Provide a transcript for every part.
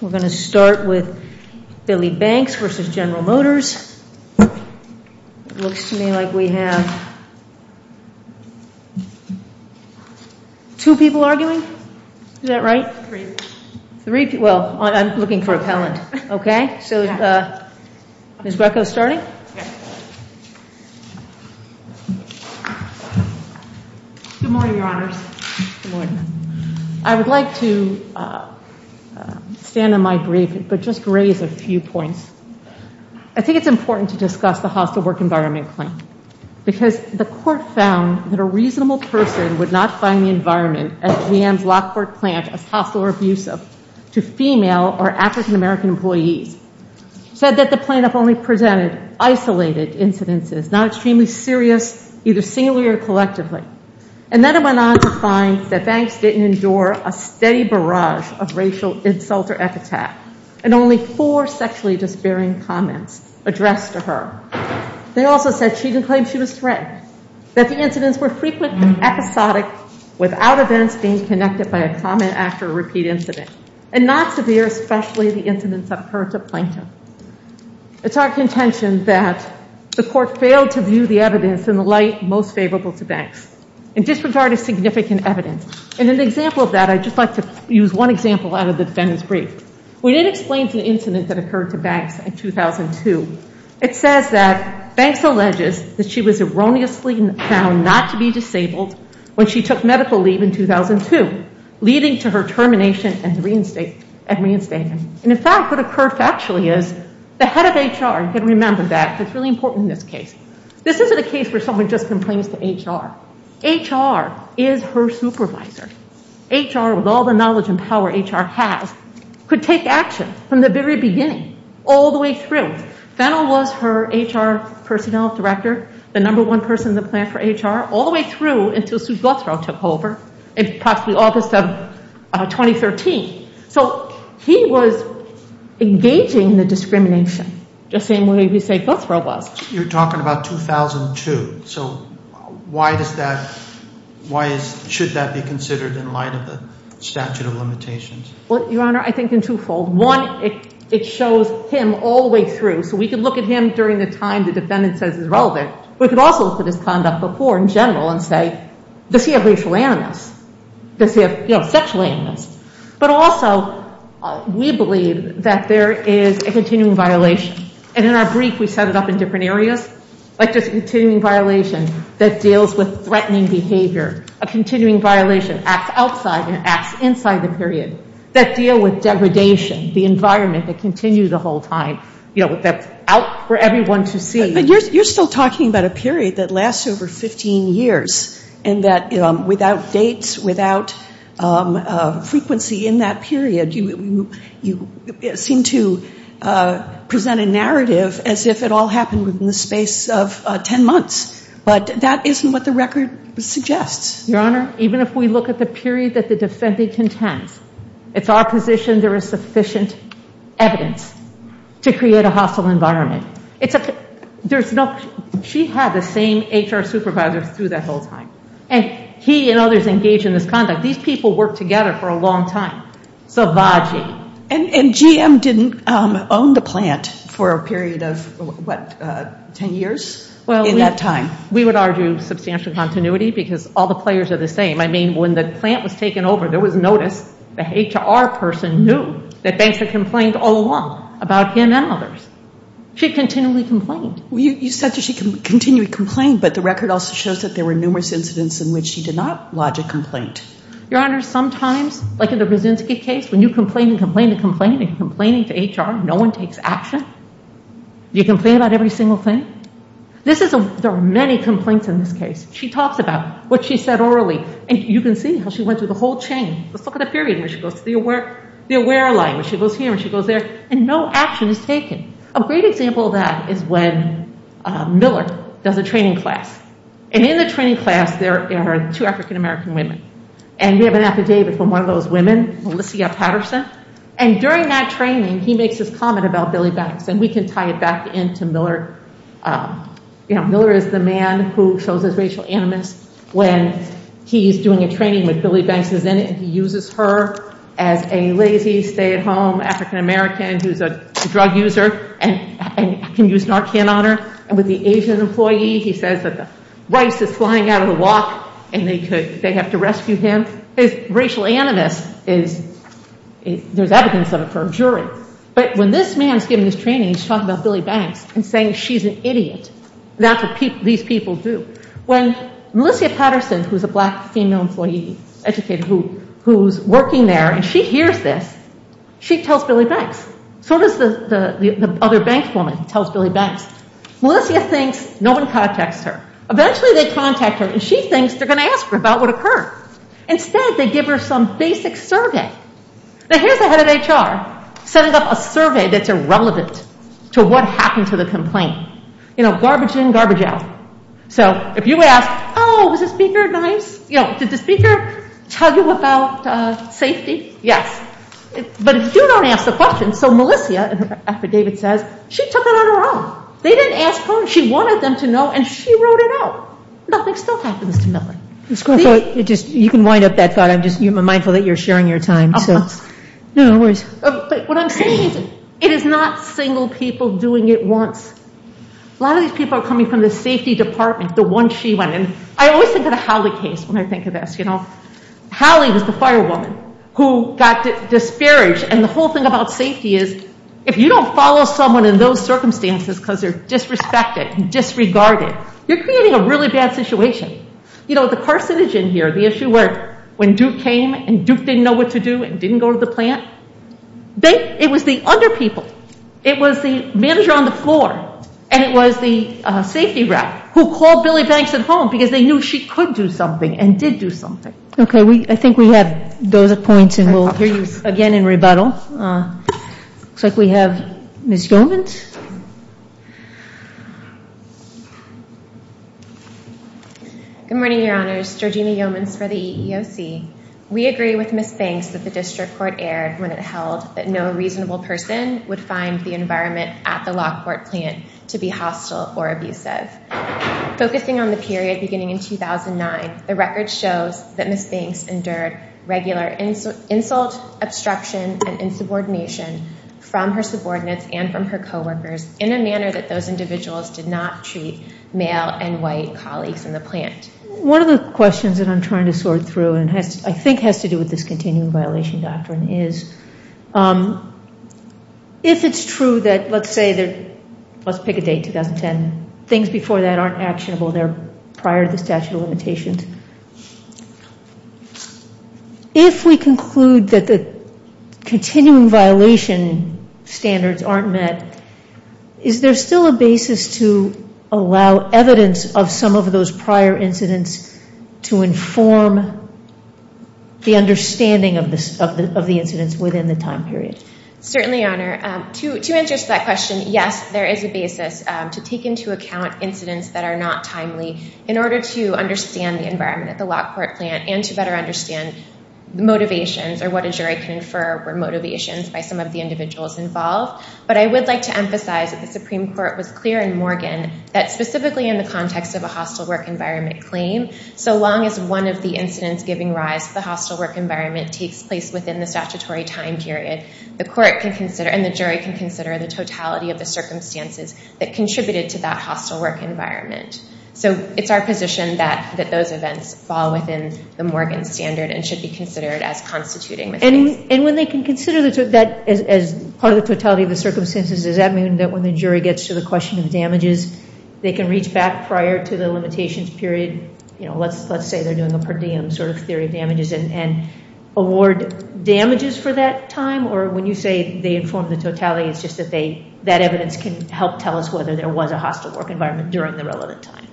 We're going to start with Billy Banks v. General Motors. It looks to me like we have two people arguing. Is that right? Three people. Three people. Well, I'm looking for appellant. Okay? So is Ms. Greco starting? Yes. Good morning, Your Honors. Good morning. I would like to stand on my brief but just raise a few points. I think it's important to discuss the hostile work environment claim because the court found that a reasonable person would not find the environment at GM's Lockport plant as hostile or abusive to female or African-American employees. It said that the plaintiff only presented isolated incidences, not extremely serious, either singularly or collectively. And then it went on to find that Banks didn't endure a steady barrage of racial insult or epithet and only four sexually disbearing comments addressed to her. They also said she didn't claim she was threatened, that the incidents were frequently episodic without events being connected by a comment after a repeat incident, and not severe, especially the incidents that occurred to Plankton. It's our contention that the court failed to view the evidence in the light most favorable to Banks and disregarded significant evidence. And an example of that, I'd just like to use one example out of the defendant's brief. When it explains the incident that occurred to Banks in 2002, it says that Banks alleges that she was erroneously found not to be disabled when she took medical leave in 2002, leading to her termination and reinstatement. And in fact, what occurred factually is the head of HR, you can remember that. It's really important in this case. This isn't a case where someone just complains to HR. HR is her supervisor. HR, with all the knowledge and power HR has, could take action from the very beginning all the way through. Fennell was her HR personnel director, the number one person in the plant for HR, all the way through until Sue Guthrow took over in approximately August of 2013. So he was engaging the discrimination the same way we say Guthrow was. You're talking about 2002. So why should that be considered in light of the statute of limitations? Well, Your Honor, I think in twofold. One, it shows him all the way through. So we could look at him during the time the defendant says is relevant. We could also look at his conduct before in general and say, does he have racial animus? Does he have sexual animus? But also we believe that there is a continuing violation, and in our brief we set it up in different areas, like just a continuing violation that deals with threatening behavior, a continuing violation, acts outside and acts inside the period, that deal with degradation, the environment that continues the whole time, you know, that's out for everyone to see. But you're still talking about a period that lasts over 15 years and that without dates, without frequency in that period, you seem to present a narrative as if it all happened within the space of 10 months. But that isn't what the record suggests. Your Honor, even if we look at the period that the defendant contends, it's our position there is sufficient evidence to create a hostile environment. She had the same HR supervisor through that whole time, and he and others engaged in this conduct. These people worked together for a long time. And GM didn't own the plant for a period of, what, 10 years in that time? We would argue substantial continuity because all the players are the same. I mean, when the plant was taken over, there was notice. The HR person knew that banks had complained all along about him and others. She continually complained. You said that she continually complained, but the record also shows that there were numerous incidents in which she did not lodge a complaint. Your Honor, sometimes, like in the Brzezinski case, when you complain and complain and complain and you're complaininging to HR, no one takes action. You complain about every single thing. There are many complaints in this case. She talks about what she said orally, and you can see how she went through the whole chain. Let's look at the period where she goes to the aware line, where she goes here and she goes there, and no action is taken. A great example of that is when Miller does a training class. And in the training class, there are two African-American women, and we have an affidavit from one of those women, Melissa Patterson. And during that training, he makes this comment about Billy Banks, and we can tie it back into Miller. Miller is the man who shows his racial animus when he's doing a training with Billy Banks. And he uses her as a lazy, stay-at-home African-American who's a drug user and can use Narcan on her. And with the Asian employee, he says that the rice is flying out of the wok, and they have to rescue him. His racial animus, there's evidence of it for a jury. But when this man's giving this training, he's talking about Billy Banks and saying she's an idiot, and that's what these people do. When Melissa Patterson, who's a black female employee, who's working there, and she hears this, she tells Billy Banks. So does the other bank woman who tells Billy Banks. Melissa thinks no one contacts her. Eventually, they contact her, and she thinks they're going to ask her about what occurred. Instead, they give her some basic survey. Now, here's the head of HR setting up a survey that's irrelevant to what happened to the complaint. Garbage in, garbage out. So if you ask, oh, was the speaker nice? Did the speaker tell you about safety? Yes. But if you don't ask the question, so Melissa, after David says, she took it on her own. They didn't ask her. She wanted them to know, and she wrote it out. Nothing still happens to Melanie. You can wind up that thought. I'm mindful that you're sharing your time. No worries. But what I'm saying is it is not single people doing it once. A lot of these people are coming from the safety department, the one she went in. I always think of the Howley case when I think of this. Howley was the firewoman who got disparaged, and the whole thing about safety is if you don't follow someone in those circumstances because they're disrespected and disregarded, you're creating a really bad situation. The carcinogen here, the issue where when Duke came and Duke didn't know what to do and didn't go to the plant, it was the other people. It was the manager on the floor, and it was the safety rep who called Billy Banks at home because they knew she could do something and did do something. Okay. I think we have those points, and we'll hear you again in rebuttal. Looks like we have Ms. Yeomans. Good morning, Your Honors. Georgina Yeomans for the EEOC. We agree with Ms. Banks that the district court erred when it held that no reasonable person would find the environment at the Lockport plant to be hostile or abusive. Focusing on the period beginning in 2009, the record shows that Ms. Banks endured regular insult, obstruction, and insubordination from her subordinates and from her coworkers in a manner that those individuals did not treat male and white colleagues in the plant. One of the questions that I'm trying to sort through and I think has to do with this continuing violation doctrine is if it's true that, let's say, let's pick a date, 2010, things before that aren't actionable and they're prior to the statute of limitations, if we conclude that the continuing violation standards aren't met, is there still a basis to allow evidence of some of those prior incidents to inform the understanding of the incidents within the time period? Certainly, Your Honor. To answer that question, yes, there is a basis to take into account incidents that are not timely in order to understand the environment at the Lockport plant and to better understand the motivations or what a jury can infer were motivations by some of the individuals involved. But I would like to emphasize that the Supreme Court was clear in Morgan that specifically in the context of a hostile work environment claim, so long as one of the incidents giving rise to the hostile work environment takes place within the statutory time period, the court can consider and the jury can consider the totality of the circumstances that contributed to that hostile work environment. So it's our position that those events fall within the Morgan standard and should be considered as constituting the case. And when they can consider that as part of the totality of the circumstances, does that mean that when the jury gets to the question of damages, they can reach back prior to the limitations period? You know, let's say they're doing a per diem sort of theory of damages and award damages for that time, or when you say they inform the totality, it's just that that evidence can help tell us whether there was a hostile work environment during the relevant time?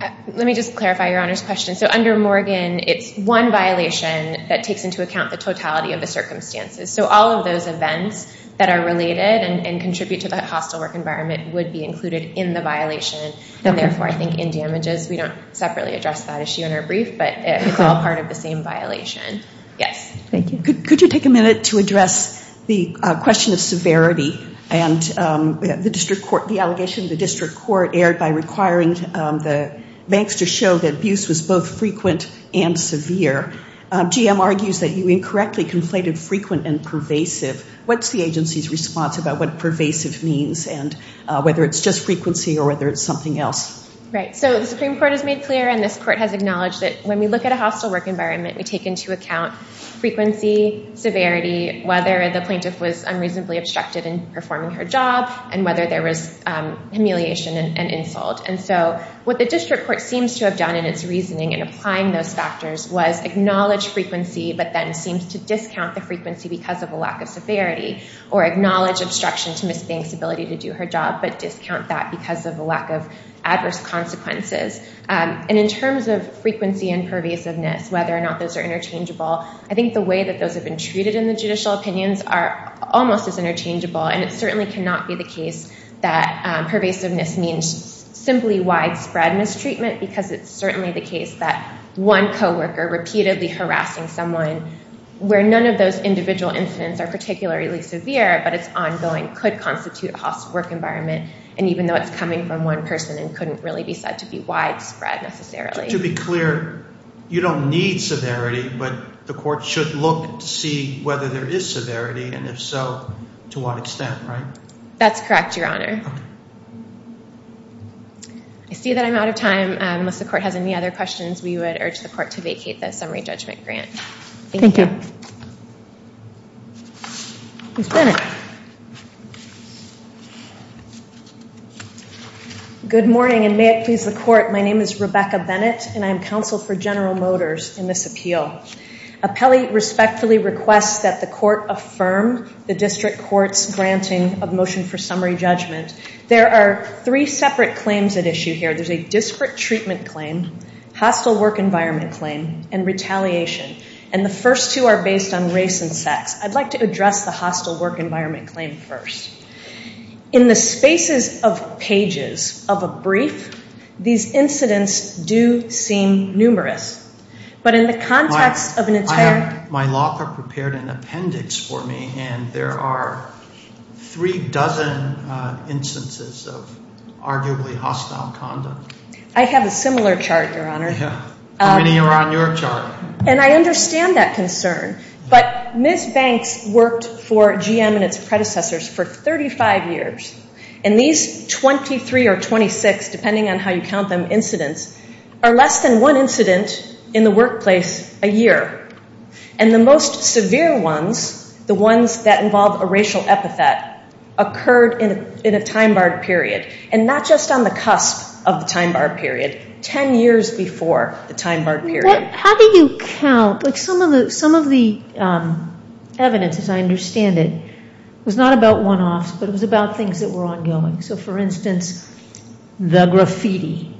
Let me just clarify Your Honor's question. So under Morgan, it's one violation that takes into account the totality of the circumstances. So all of those events that are related and contribute to the hostile work environment would be included in the violation. And therefore, I think in damages, we don't separately address that issue in our brief, but it's all part of the same violation. Yes. Thank you. Could you take a minute to address the question of severity and the district court, where the court erred by requiring the banks to show that abuse was both frequent and severe. GM argues that you incorrectly conflated frequent and pervasive. What's the agency's response about what pervasive means and whether it's just frequency or whether it's something else? Right. So the Supreme Court has made clear and this court has acknowledged that when we look at a hostile work environment, we take into account frequency, severity, whether the plaintiff was unreasonably obstructed in performing her job and whether there was humiliation and insult. And so what the district court seems to have done in its reasoning in applying those factors was acknowledge frequency but then seems to discount the frequency because of a lack of severity or acknowledge obstruction to Ms. Banks' ability to do her job but discount that because of a lack of adverse consequences. And in terms of frequency and pervasiveness, whether or not those are interchangeable, I think the way that those have been treated in the judicial opinions are almost as interchangeable and it certainly cannot be the case that pervasiveness means simply widespread mistreatment because it's certainly the case that one coworker repeatedly harassing someone where none of those individual incidents are particularly severe but it's ongoing could constitute a hostile work environment and even though it's coming from one person it couldn't really be said to be widespread necessarily. To be clear, you don't need severity but the court should look to see whether there is severity and if so, to what extent, right? That's correct, Your Honor. I see that I'm out of time. Unless the court has any other questions, we would urge the court to vacate the summary judgment grant. Thank you. Ms. Bennett. Good morning and may it please the court. My name is Rebecca Bennett and I'm counsel for General Motors in this appeal. Appellee respectfully requests that the court affirm the district court's granting of motion for summary judgment. There are three separate claims at issue here. There's a disparate treatment claim, hostile work environment claim, and retaliation and the first two are based on race and sex. I'd like to address the hostile work environment claim first. In the spaces of pages of a brief, these incidents do seem numerous but in the context of an entire... My law clerk prepared an appendix for me and there are three dozen instances of arguably hostile conduct. I have a similar chart, Your Honor. How many are on your chart? And I understand that concern but Ms. Banks worked for GM and its predecessors for 35 years and these 23 or 26, depending on how you count them, incidents are less than one incident in the workplace a year and the most severe ones, the ones that involve a racial epithet occurred in a time-barred period and not just on the cusp of the time-barred period, 10 years before the time-barred period. How do you count? Some of the evidence, as I understand it, was not about one-offs but it was about things that were ongoing. So for instance, the graffiti,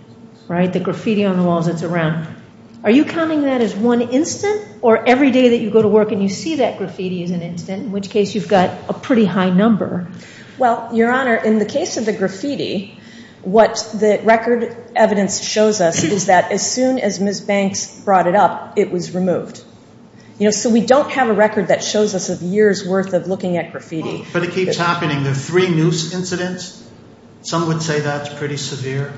right? The graffiti on the walls that's around. Are you counting that as one incident? Or every day that you go to work and you see that graffiti is an incident in which case you've got a pretty high number. Well, Your Honor, in the case of the graffiti what the record evidence shows us is that as soon as Ms. Banks brought it up it was removed. So we don't have a record that shows us a year's worth of looking at graffiti. But it keeps happening. The three noose incidents, some would say that's pretty severe.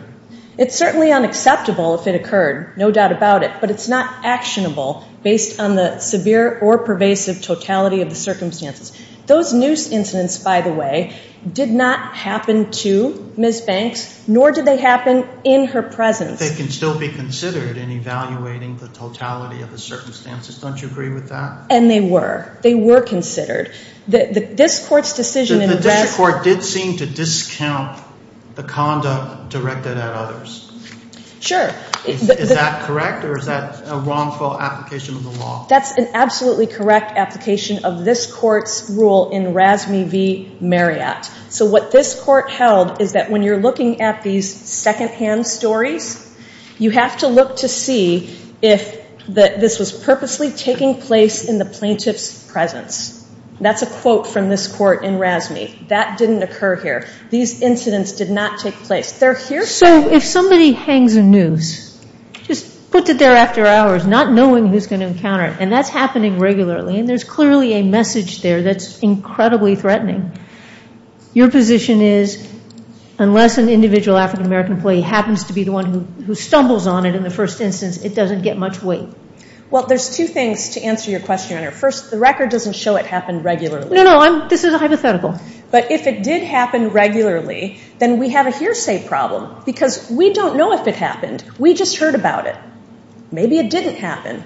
It's certainly unacceptable if it occurred, no doubt about it, but it's not actionable based on the severe or pervasive totality of the circumstances. Those noose incidents, by the way, did not happen to Ms. Banks nor did they happen in her presence. But they can still be considered in evaluating the totality of the circumstances. Don't you agree with that? And they were. They were considered. The district court did seem to discount the conduct directed at others. Sure. Is that correct or is that a wrongful application of the law? That's an absolutely correct application of this court's rule in RASME v. Marriott. So what this court held is that when you're looking at these secondhand stories you have to look to see if this was purposely taking place in the plaintiff's presence. That's a quote from this court in RASME. That didn't occur here. These incidents did not take place. So if somebody hangs a noose, just puts it there after hours, not knowing who's going to encounter it, and that's happening regularly, and there's clearly a message there that's incredibly threatening, your position is unless an individual African American employee happens to be the one who stumbles on it in the first instance, it doesn't get much weight. Well, there's two things to answer your question, Your Honor. First, the record doesn't show it happened regularly. No, no. This is a hypothetical. But if it did happen regularly, then we have a hearsay problem because we don't know if it happened. We just heard about it. Maybe it didn't happen.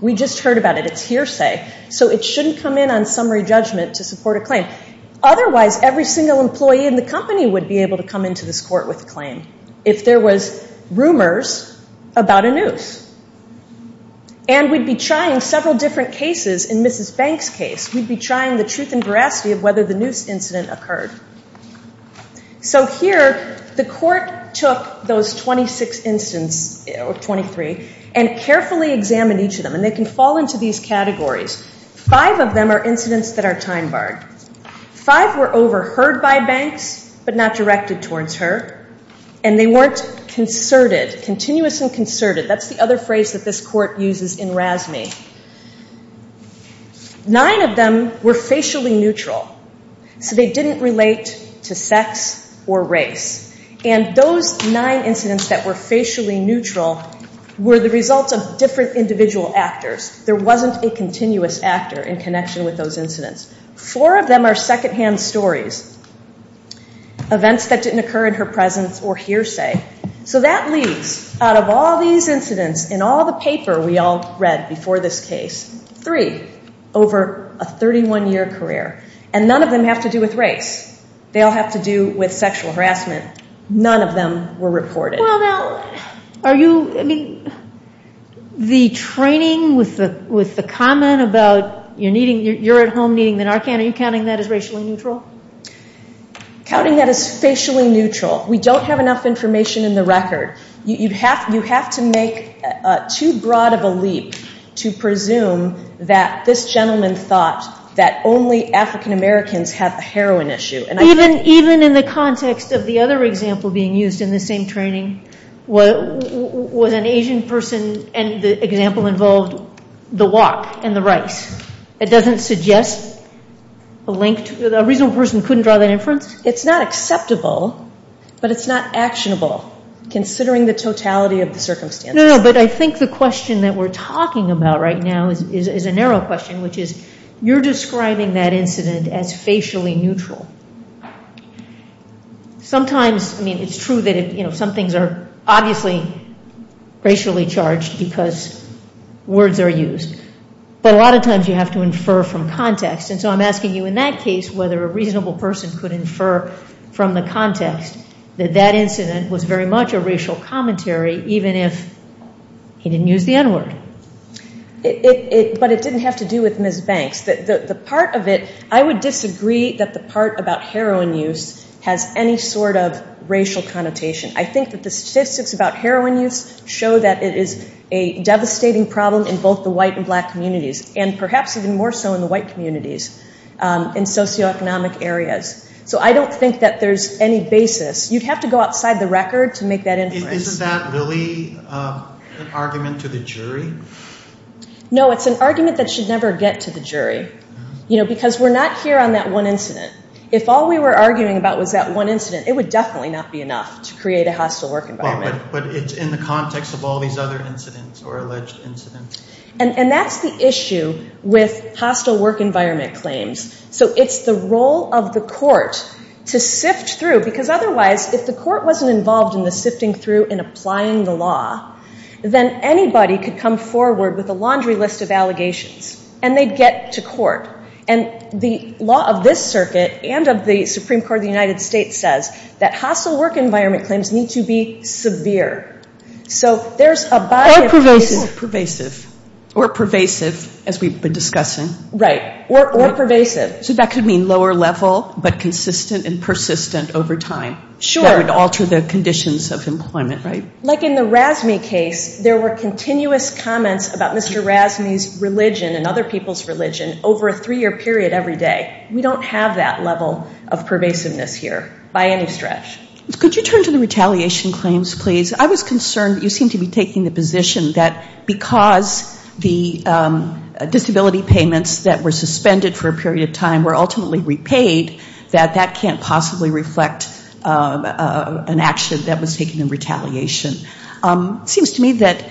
We just heard about it. It's hearsay. So it shouldn't come in on summary judgment to support a claim. Otherwise, every single employee in the company would be able to come into this court with a claim if there was rumors about a noose. And we'd be trying several different cases. In Mrs. Banks' case, we'd be trying the truth and veracity of whether the noose incident occurred. So here, the court took those 26 incidents, or 23, and carefully examined each of them. And they can fall into these categories. Five of them are incidents that are time-barred. Five were overheard by Banks but not directed towards her. And they weren't concerted, continuous and concerted. That's the other phrase that this court uses in RASME. Nine of them were facially neutral. So they didn't relate to sex or race. And those nine incidents that were facially neutral were the results of different individual actors. There wasn't a continuous actor in connection with those incidents. Four of them are second-hand stories, events that didn't occur in her presence or hearsay. So that leaves, out of all these incidents in all the paper we all read before this case, three over a 31-year career. And none of them have to do with race. They all have to do with sexual harassment. None of them were reported. Well, now, are you, I mean, the training with the comment about you're at home needing the Narcan, are you counting that as racially neutral? Counting that as facially neutral. We don't have enough information in the record. You have to make too broad of a leap to presume that this gentleman thought that only African-Americans have a heroin issue. Even in the context of the other example being used in the same training, was an Asian person, and the example involved the wok and the rice, it doesn't suggest a reasonable person couldn't draw that inference? It's not acceptable, but it's not actionable, considering the totality of the circumstances. No, no, but I think the question that we're talking about right now is a narrow question, which is you're describing that incident as facially neutral. Sometimes, I mean, it's true that some things are obviously racially charged because words are used. But a lot of times you have to infer from context. And so I'm asking you in that case whether a reasonable person could infer from the context that that incident was very much a racial commentary, even if he didn't use the N-word. But it didn't have to do with Ms. Banks. The part of it, I would disagree that the part about heroin use has any sort of racial connotation. I think that the statistics about heroin use show that it is a devastating problem in both the white and black communities, and perhaps even more so in the white communities in socioeconomic areas. So I don't think that there's any basis. You'd have to go outside the record to make that inference. Isn't that really an argument to the jury? No, it's an argument that should never get to the jury because we're not here on that one incident. If all we were arguing about was that one incident, it would definitely not be enough to create a hostile work environment. But it's in the context of all these other incidents or alleged incidents. And that's the issue with hostile work environment claims. So it's the role of the court to sift through. Because otherwise, if the court wasn't involved in the sifting through and applying the law, then anybody could come forward with a laundry list of allegations. And they'd get to court. And the law of this circuit and of the Supreme Court of the United States says that hostile work environment claims need to be severe. So there's a body of cases. Or pervasive. Or pervasive, as we've been discussing. Right. Or pervasive. So that could mean lower level but consistent and persistent over time. Sure. That would alter the conditions of employment, right? Like in the Razmi case, there were continuous comments about Mr. Razmi's religion and other people's religion over a three-year period every day. We don't have that level of pervasiveness here by any stretch. Could you turn to the retaliation claims, please? I was concerned that you seemed to be taking the position that because the disability payments that were suspended for a period of time were ultimately repaid, that that can't possibly reflect an action that was taken in retaliation. It seems to me that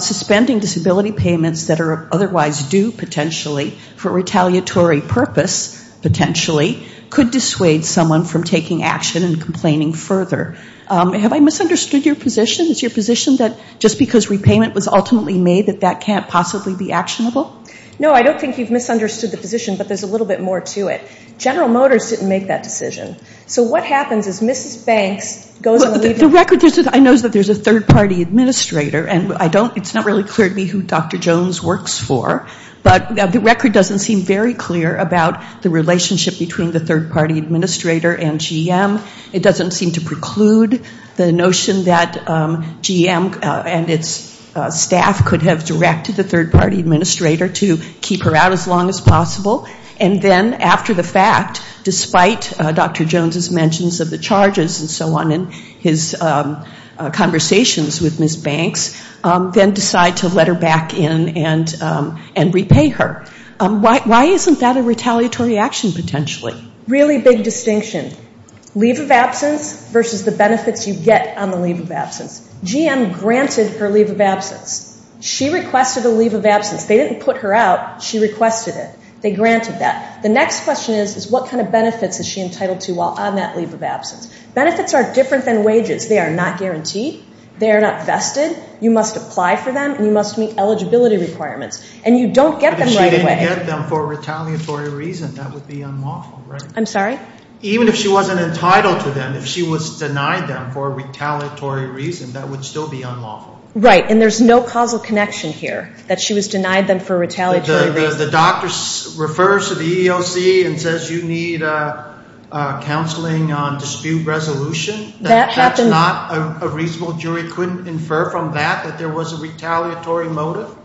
suspending disability payments that are otherwise due, potentially, for retaliatory purpose, potentially, could dissuade someone from taking action and complaining further. Have I misunderstood your position? Is your position that just because repayment was ultimately made, that that can't possibly be actionable? No. I don't think you've misunderstood the position, but there's a little bit more to it. General Motors didn't make that decision. So what happens is Mrs. Banks goes and leaves. The record is that I know there's a third-party administrator, and it's not really clear to me who Dr. Jones works for, but the record doesn't seem very clear about the relationship between the third-party administrator and GM. It doesn't seem to preclude the notion that GM and its staff could have directed the third-party administrator to keep her out as long as possible and then, after the fact, despite Dr. Jones' mentions of the charges and so on in his conversations with Mrs. Banks, then decide to let her back in and repay her. Why isn't that a retaliatory action, potentially? Really big distinction. GM granted her leave of absence. She requested a leave of absence. They didn't put her out. She requested it. They granted that. The next question is what kind of benefits is she entitled to while on that leave of absence? Benefits are different than wages. They are not guaranteed. They are not vested. You must apply for them, and you must meet eligibility requirements. And you don't get them right away. But if she didn't get them for a retaliatory reason, that would be unlawful, right? I'm sorry? Even if she wasn't entitled to them, if she was denied them for a retaliatory reason, that would still be unlawful. Right. And there's no causal connection here that she was denied them for a retaliatory reason. The doctor refers to the EEOC and says you need counseling on dispute resolution. That's not a reasonable jury. Couldn't infer from that that there was a retaliatory motive?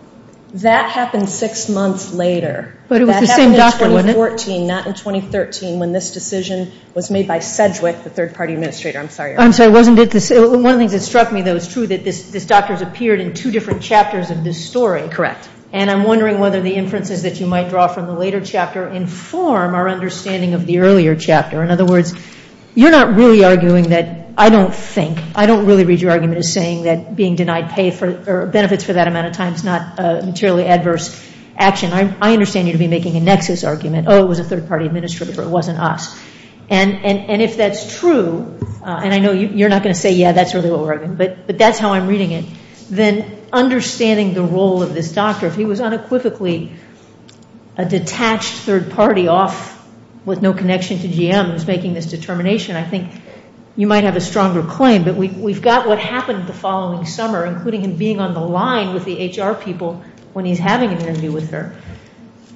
That happened six months later. But it was the same doctor, wasn't it? In 2014, not in 2013, when this decision was made by Sedgwick, the third-party administrator. I'm sorry. I'm sorry, wasn't it? One of the things that struck me, though, is true that this doctor has appeared in two different chapters of this story. Correct. And I'm wondering whether the inferences that you might draw from the later chapter inform our understanding of the earlier chapter. In other words, you're not really arguing that I don't think, I don't really read your argument as saying that being denied pay or benefits for that amount of time is not a materially adverse action. I understand you to be making a nexus argument, oh, it was a third-party administrator, it wasn't us. And if that's true, and I know you're not going to say, yeah, that's really what we're arguing, but that's how I'm reading it, then understanding the role of this doctor, if he was unequivocally a detached third party off with no connection to GM who's making this determination, I think you might have a stronger claim. But we've got what happened the following summer, including him being on the line with the HR people when he's having an interview with her.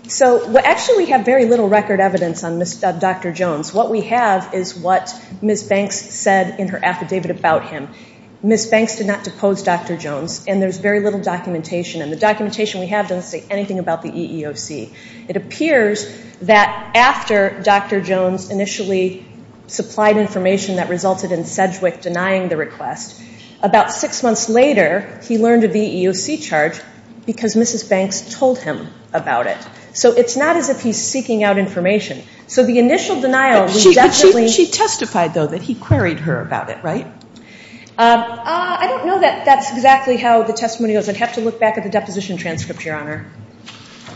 So actually we have very little record evidence on Dr. Jones. What we have is what Ms. Banks said in her affidavit about him. Ms. Banks did not depose Dr. Jones, and there's very little documentation, and the documentation we have doesn't say anything about the EEOC. It appears that after Dr. Jones initially supplied information that resulted in Sedgwick denying the request, about six months later he learned of the EEOC charge because Mrs. Banks told him about it. So it's not as if he's seeking out information. So the initial denial was definitely – But she testified, though, that he queried her about it, right? I don't know that that's exactly how the testimony goes. I'd have to look back at the deposition transcript, Your Honor.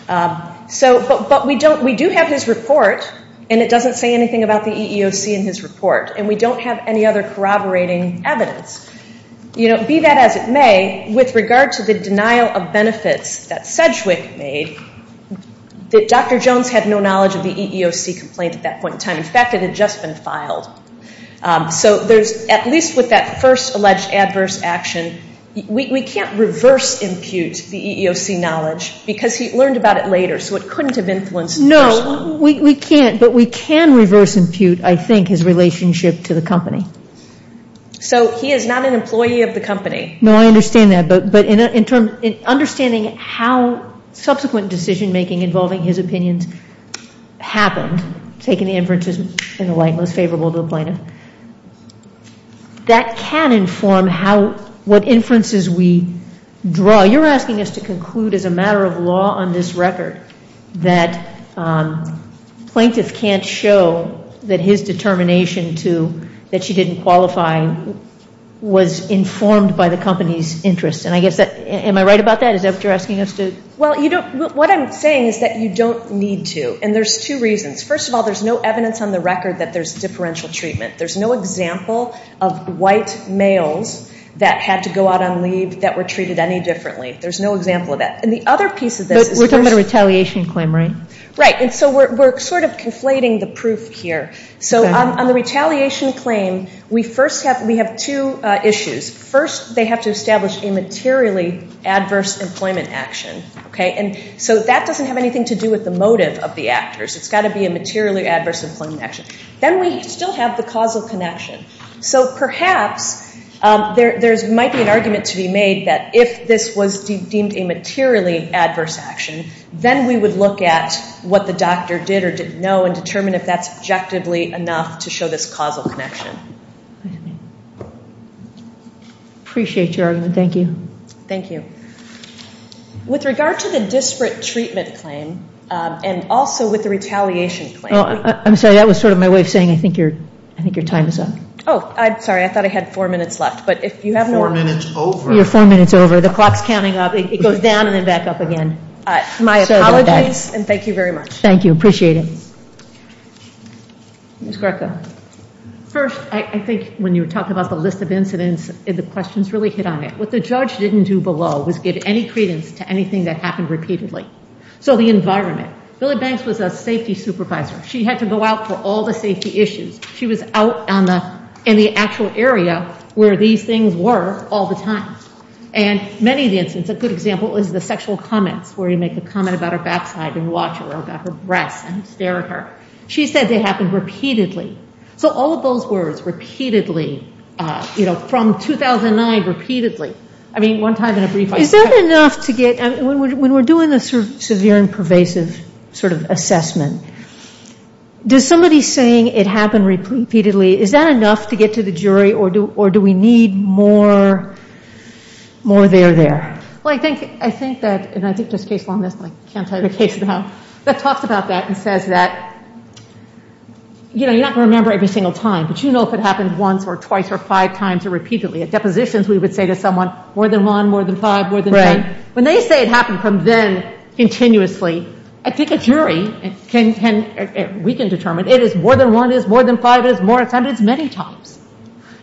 But we do have his report, and it doesn't say anything about the EEOC in his report, and we don't have any other corroborating evidence. You know, be that as it may, with regard to the denial of benefits that Sedgwick made, Dr. Jones had no knowledge of the EEOC complaint at that point in time. In fact, it had just been filed. So there's – at least with that first alleged adverse action, we can't reverse impute the EEOC knowledge because he learned about it later, so it couldn't have influenced the first one. Well, we can't, but we can reverse impute, I think, his relationship to the company. So he is not an employee of the company. No, I understand that. But in understanding how subsequent decision-making involving his opinions happened, taking the inferences in the light most favorable to the plaintiff, that can inform how – what inferences we draw. Well, you're asking us to conclude as a matter of law on this record that plaintiff can't show that his determination to – that she didn't qualify was informed by the company's interest. And I guess that – am I right about that? Is that what you're asking us to – Well, you don't – what I'm saying is that you don't need to, and there's two reasons. First of all, there's no evidence on the record that there's differential treatment. There's no example of white males that had to go out on leave that were treated any differently. There's no example of that. And the other piece of this is – But we're talking about a retaliation claim, right? Right. And so we're sort of conflating the proof here. So on the retaliation claim, we first have – we have two issues. First, they have to establish a materially adverse employment action, okay? And so that doesn't have anything to do with the motive of the actors. It's got to be a materially adverse employment action. Then we still have the causal connection. So perhaps there might be an argument to be made that if this was deemed a materially adverse action, then we would look at what the doctor did or didn't know and determine if that's objectively enough to show this causal connection. Appreciate your argument. Thank you. Thank you. With regard to the disparate treatment claim and also with the retaliation claim – No, I'm sorry. That was sort of my way of saying I think your time is up. Oh, sorry. I thought I had four minutes left. But if you have no – Four minutes over. You're four minutes over. The clock's counting up. It goes down and then back up again. My apologies and thank you very much. Thank you. Appreciate it. Ms. Greco. First, I think when you were talking about the list of incidents, the questions really hit on it. What the judge didn't do below was give any credence to anything that happened repeatedly. So the environment. Billie Banks was a safety supervisor. She had to go out for all the safety issues. She was out in the actual area where these things were all the time. And many of the incidents, a good example is the sexual comments where you make a comment about her backside and watch her or about her breasts and stare at her. She said they happened repeatedly. So all of those words, repeatedly, you know, from 2009, repeatedly. I mean, one time in a brief – Is that enough to get – when we're doing this sort of severe and pervasive sort of assessment, does somebody saying it happened repeatedly, is that enough to get to the jury or do we need more there there? Well, I think that – and I think there's a case on this, but I can't tell you the case now – that talks about that and says that, you know, you're not going to remember every single time, but you know if it happened once or twice or five times or repeatedly. At depositions we would say to someone, more than one, more than five, more than ten. When they say it happened from then continuously, I think a jury can – we can determine. It is more than one, it is more than five, it is more – it's happened many times.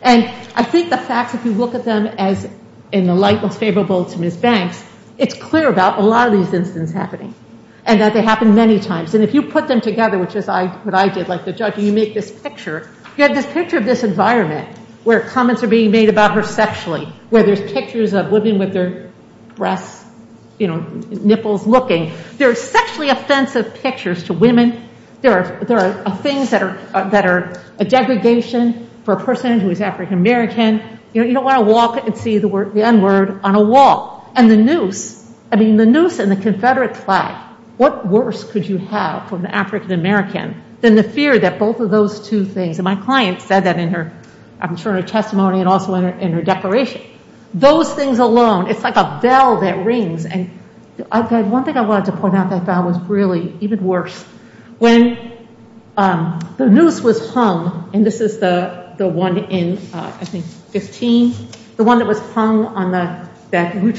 And I think the facts, if you look at them as in the light most favorable to Ms. Banks, it's clear about a lot of these incidents happening and that they happen many times. And if you put them together, which is what I did, like the judge, and you make this picture, you have this picture of this environment where comments are being made about her sexually, where there's pictures of women with their breasts, you know, nipples looking. There are sexually offensive pictures to women. There are things that are a degradation for a person who is African American. You know, you don't want to walk and see the N-word on a wall. And the noose, I mean the noose and the Confederate flag, what worse could you have for an African American than the fear that both of those two things, and my client said that in her – I'm sure in her testimony and also in her declaration. Those things alone, it's like a bell that rings. And one thing I wanted to point out that I found was really even worse. When the noose was hung, and this is the one in, I think, 15, the one that was hung on the – and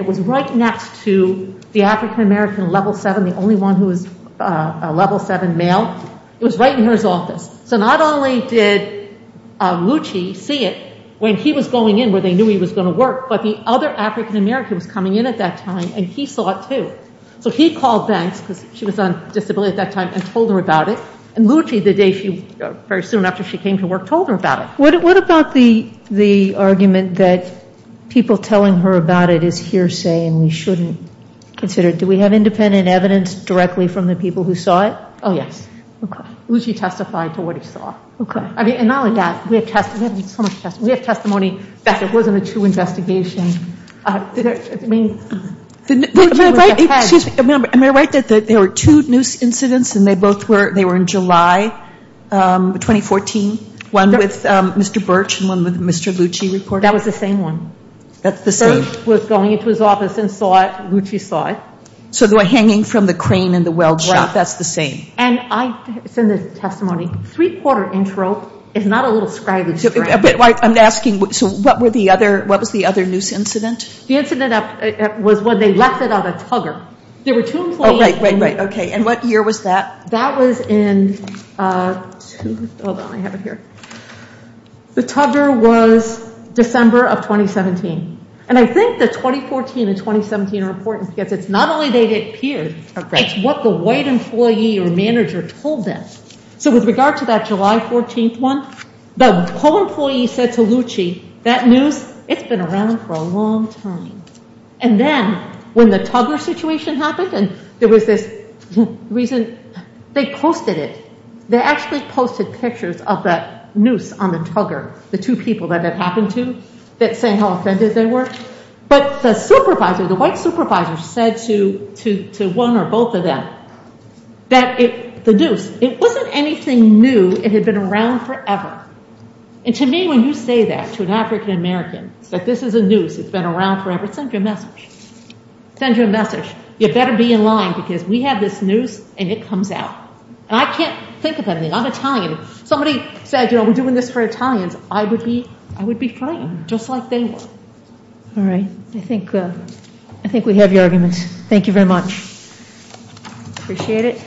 it was right next to the African American level 7, the only one who was a level 7 male. It was right in her office. So not only did Lucci see it when he was going in where they knew he was going to work, but the other African American was coming in at that time, and he saw it too. So he called banks, because she was on disability at that time, and told her about it. And Lucci, the day she – very soon after she came to work, told her about it. What about the argument that people telling her about it is hearsay and we shouldn't consider it? Do we have independent evidence directly from the people who saw it? Oh, yes. Okay. Lucci testified to what he saw. Okay. And not only that, we have so much testimony. We have testimony that it wasn't a true investigation. I mean – Excuse me. Am I right that there were two noose incidents, and they both were – they were in July 2014, one with Mr. Birch and one with Mr. Lucci reported? That was the same one. That's the same. Birch was going into his office and saw it. Lucci saw it. So they were hanging from the crane in the weld shop. Right. That's the same. And I said in the testimony, three-quarter inch rope is not a little scraggly strand. I'm asking, so what was the other noose incident? The incident was when they left it on a tugger. There were two employees – Oh, right, right, right. Okay. And what year was that? That was in – hold on, I have it here. The tugger was December of 2017. And I think the 2014 and 2017 are important because it's not only they appeared, it's what the white employee or manager told them. So with regard to that July 14th one, the co-employee said to Lucci, that noose, it's been around for a long time. And then when the tugger situation happened and there was this reason, they posted it. They actually posted pictures of that noose on the tugger, the two people that it happened to that say how offended they were. But the supervisor, the white supervisor said to one or both of them that the noose, it wasn't anything new, it had been around forever. And to me, when you say that to an African-American, that this is a noose, it's been around forever, it sends you a message. It sends you a message. You better be in line because we have this noose and it comes out. And I can't think of anything. I'm Italian. Somebody said, you know, we're doing this for Italians. I would be frightened just like they were. All right. I think we have your argument. Thank you very much. Appreciate it.